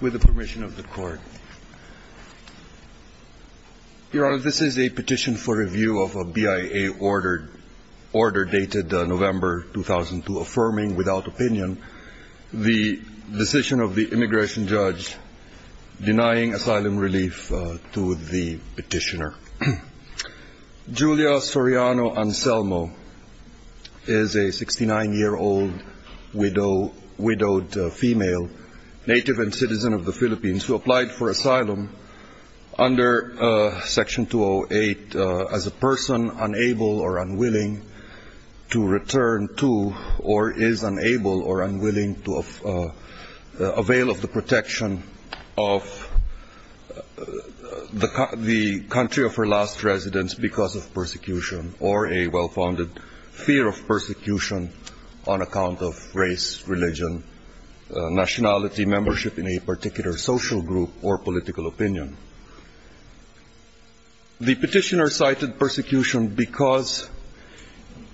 With the permission of the court, Your Honor, this is a petition for review of a BIA order dated November 2002 affirming, without opinion, the decision of the immigration judge denying asylum relief to the petitioner. Julia Soriano Anselmo is a 69-year-old widowed female, native and citizen of the Philippines, who applied for asylum under Section 208 as a person unable or unwilling to return to or is unable or unwilling to avail of the protection of the country of her last residence because of persecution or a well-founded fear of persecution on account of race, religion, nationality, membership in a particular social group or political opinion. The petitioner cited persecution because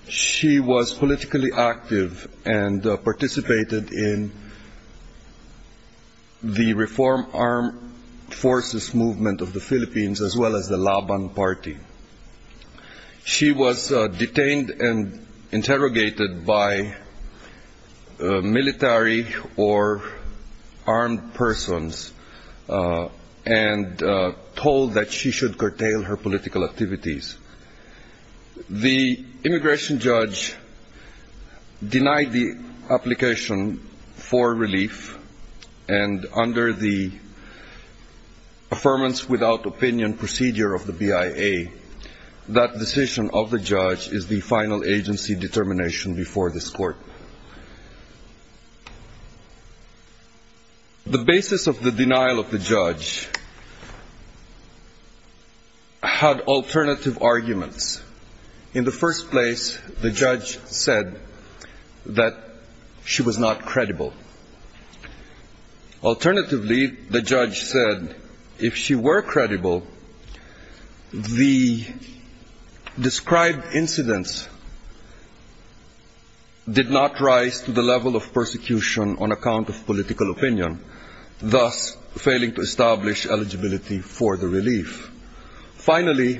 she was politically active and participated in the Reform Armed Forces movement of the Philippines as well as the Laban party. She was detained and interrogated by military or armed persons and told that she should curtail her political activities. The immigration judge denied the BIA. That decision of the judge is the final agency determination before this court. The basis of the denial of the judge had alternative arguments. In the first place, the judge said that she was not credible. Alternatively, the judge said if she were credible, the described incidents did not rise to the level of persecution on account of political opinion, thus failing to establish eligibility for the relief. Finally,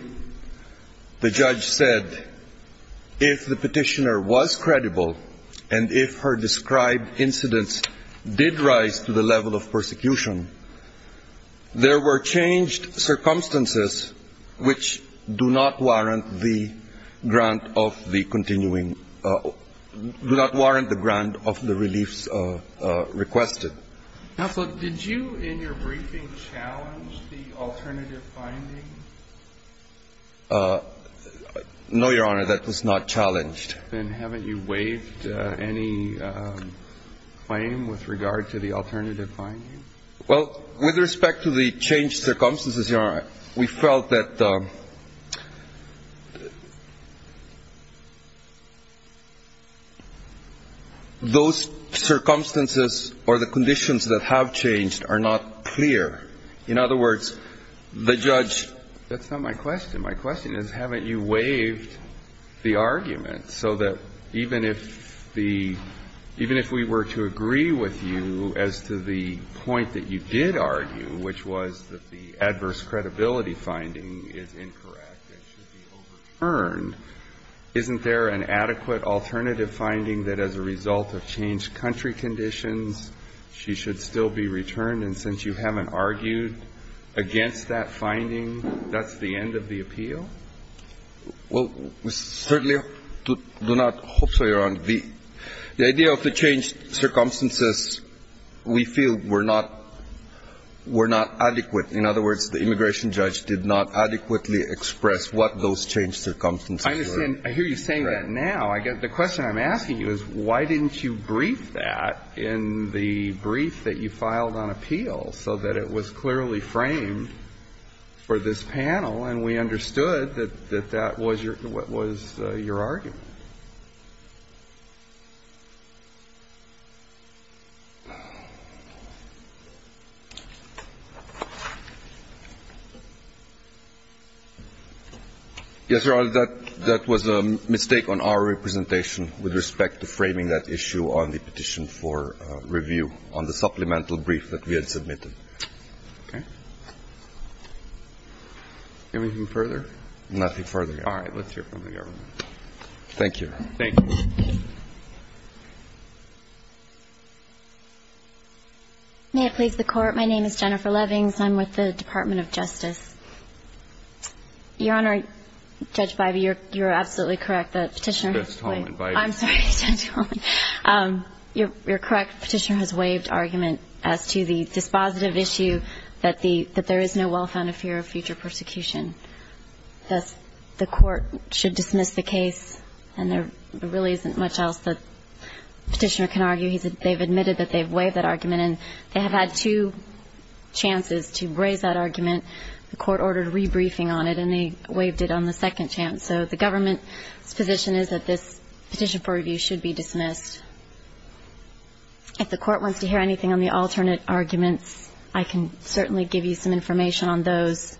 the judge said if the petitioner was credible and if her described incidents did rise to the level of persecution, there were changed circumstances which do not warrant the grant of the continuing, do not warrant the grant of the reliefs requested. Counsel, did you in your briefing challenge the alternative finding? No, Your Honor, that was not challenged. Then haven't you waived any claim with regard to the alternative finding? Well, with respect to the changed circumstances, Your Honor, we felt that those circumstances or the conditions that have changed are not clear. In other words, the judge – That's not my question. My question is haven't you waived the argument so that even if the – even if we were to agree with you as to the point that you did argue, which was that the adverse credibility finding is incorrect and should be overturned, isn't there an adequate alternative finding that as a result of changed country conditions, she should still be returned? And since you haven't argued against that finding, that's the end of the appeal? Well, we certainly do not hope so, Your Honor. The idea of the changed circumstances we feel were not – were not adequate. In other words, the immigration judge did not adequately express what those changed circumstances were. I understand. I hear you saying that now. The question I'm asking you is why didn't you brief that in the brief that you filed on appeal so that it was clearly framed for this panel and we understood that that was your – what was your argument? Yes, Your Honor, that was a mistake on our representation with respect to framing that issue on the petition for review on the supplemental brief that we had submitted. Okay. Anything further? Nothing further, Your Honor. All right. Let's hear from the government. Thank you. Thank you. May it please the Court. My name is Jennifer Levings. I'm with the Department of Justice. Your Honor, Judge Bivey, you're absolutely correct. The petitioner – That's Tom and Bivey. I'm sorry, Judge Bivey. Your correct petitioner has waived argument as to the dispositive issue that there is no well-founded fear of future persecution. Thus, the Court should dismiss the case, and there really isn't much else that the petitioner can argue. They've admitted that they've waived that argument, and they have had two chances to raise that argument. The Court ordered a rebriefing on it, and they waived it on the second chance. So the government's position is that this petition for review should be dismissed. If the Court wants to hear anything on the alternate arguments, I can certainly give you some information on those.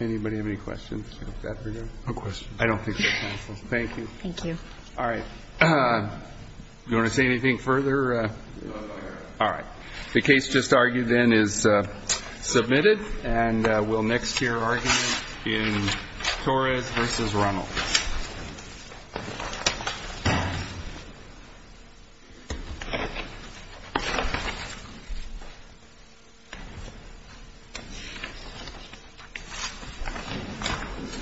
Anybody have any questions? No questions. I don't think so, counsel. Thank you. Thank you. All right. You want to say anything further? No, Your Honor. All right. The case just argued then is submitted, and we'll next hear argument in Torres v. Runnell.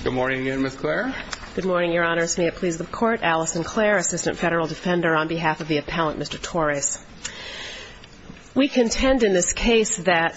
Good morning again, Ms. Clare. Good morning, Your Honors. May it please the Court, Alison Clare, Assistant Federal Defender on behalf of the Appellant, Mr. Torres. We contend in this case that admission of a defendant who has been convicted The defendant is not guilty of a crime against the law.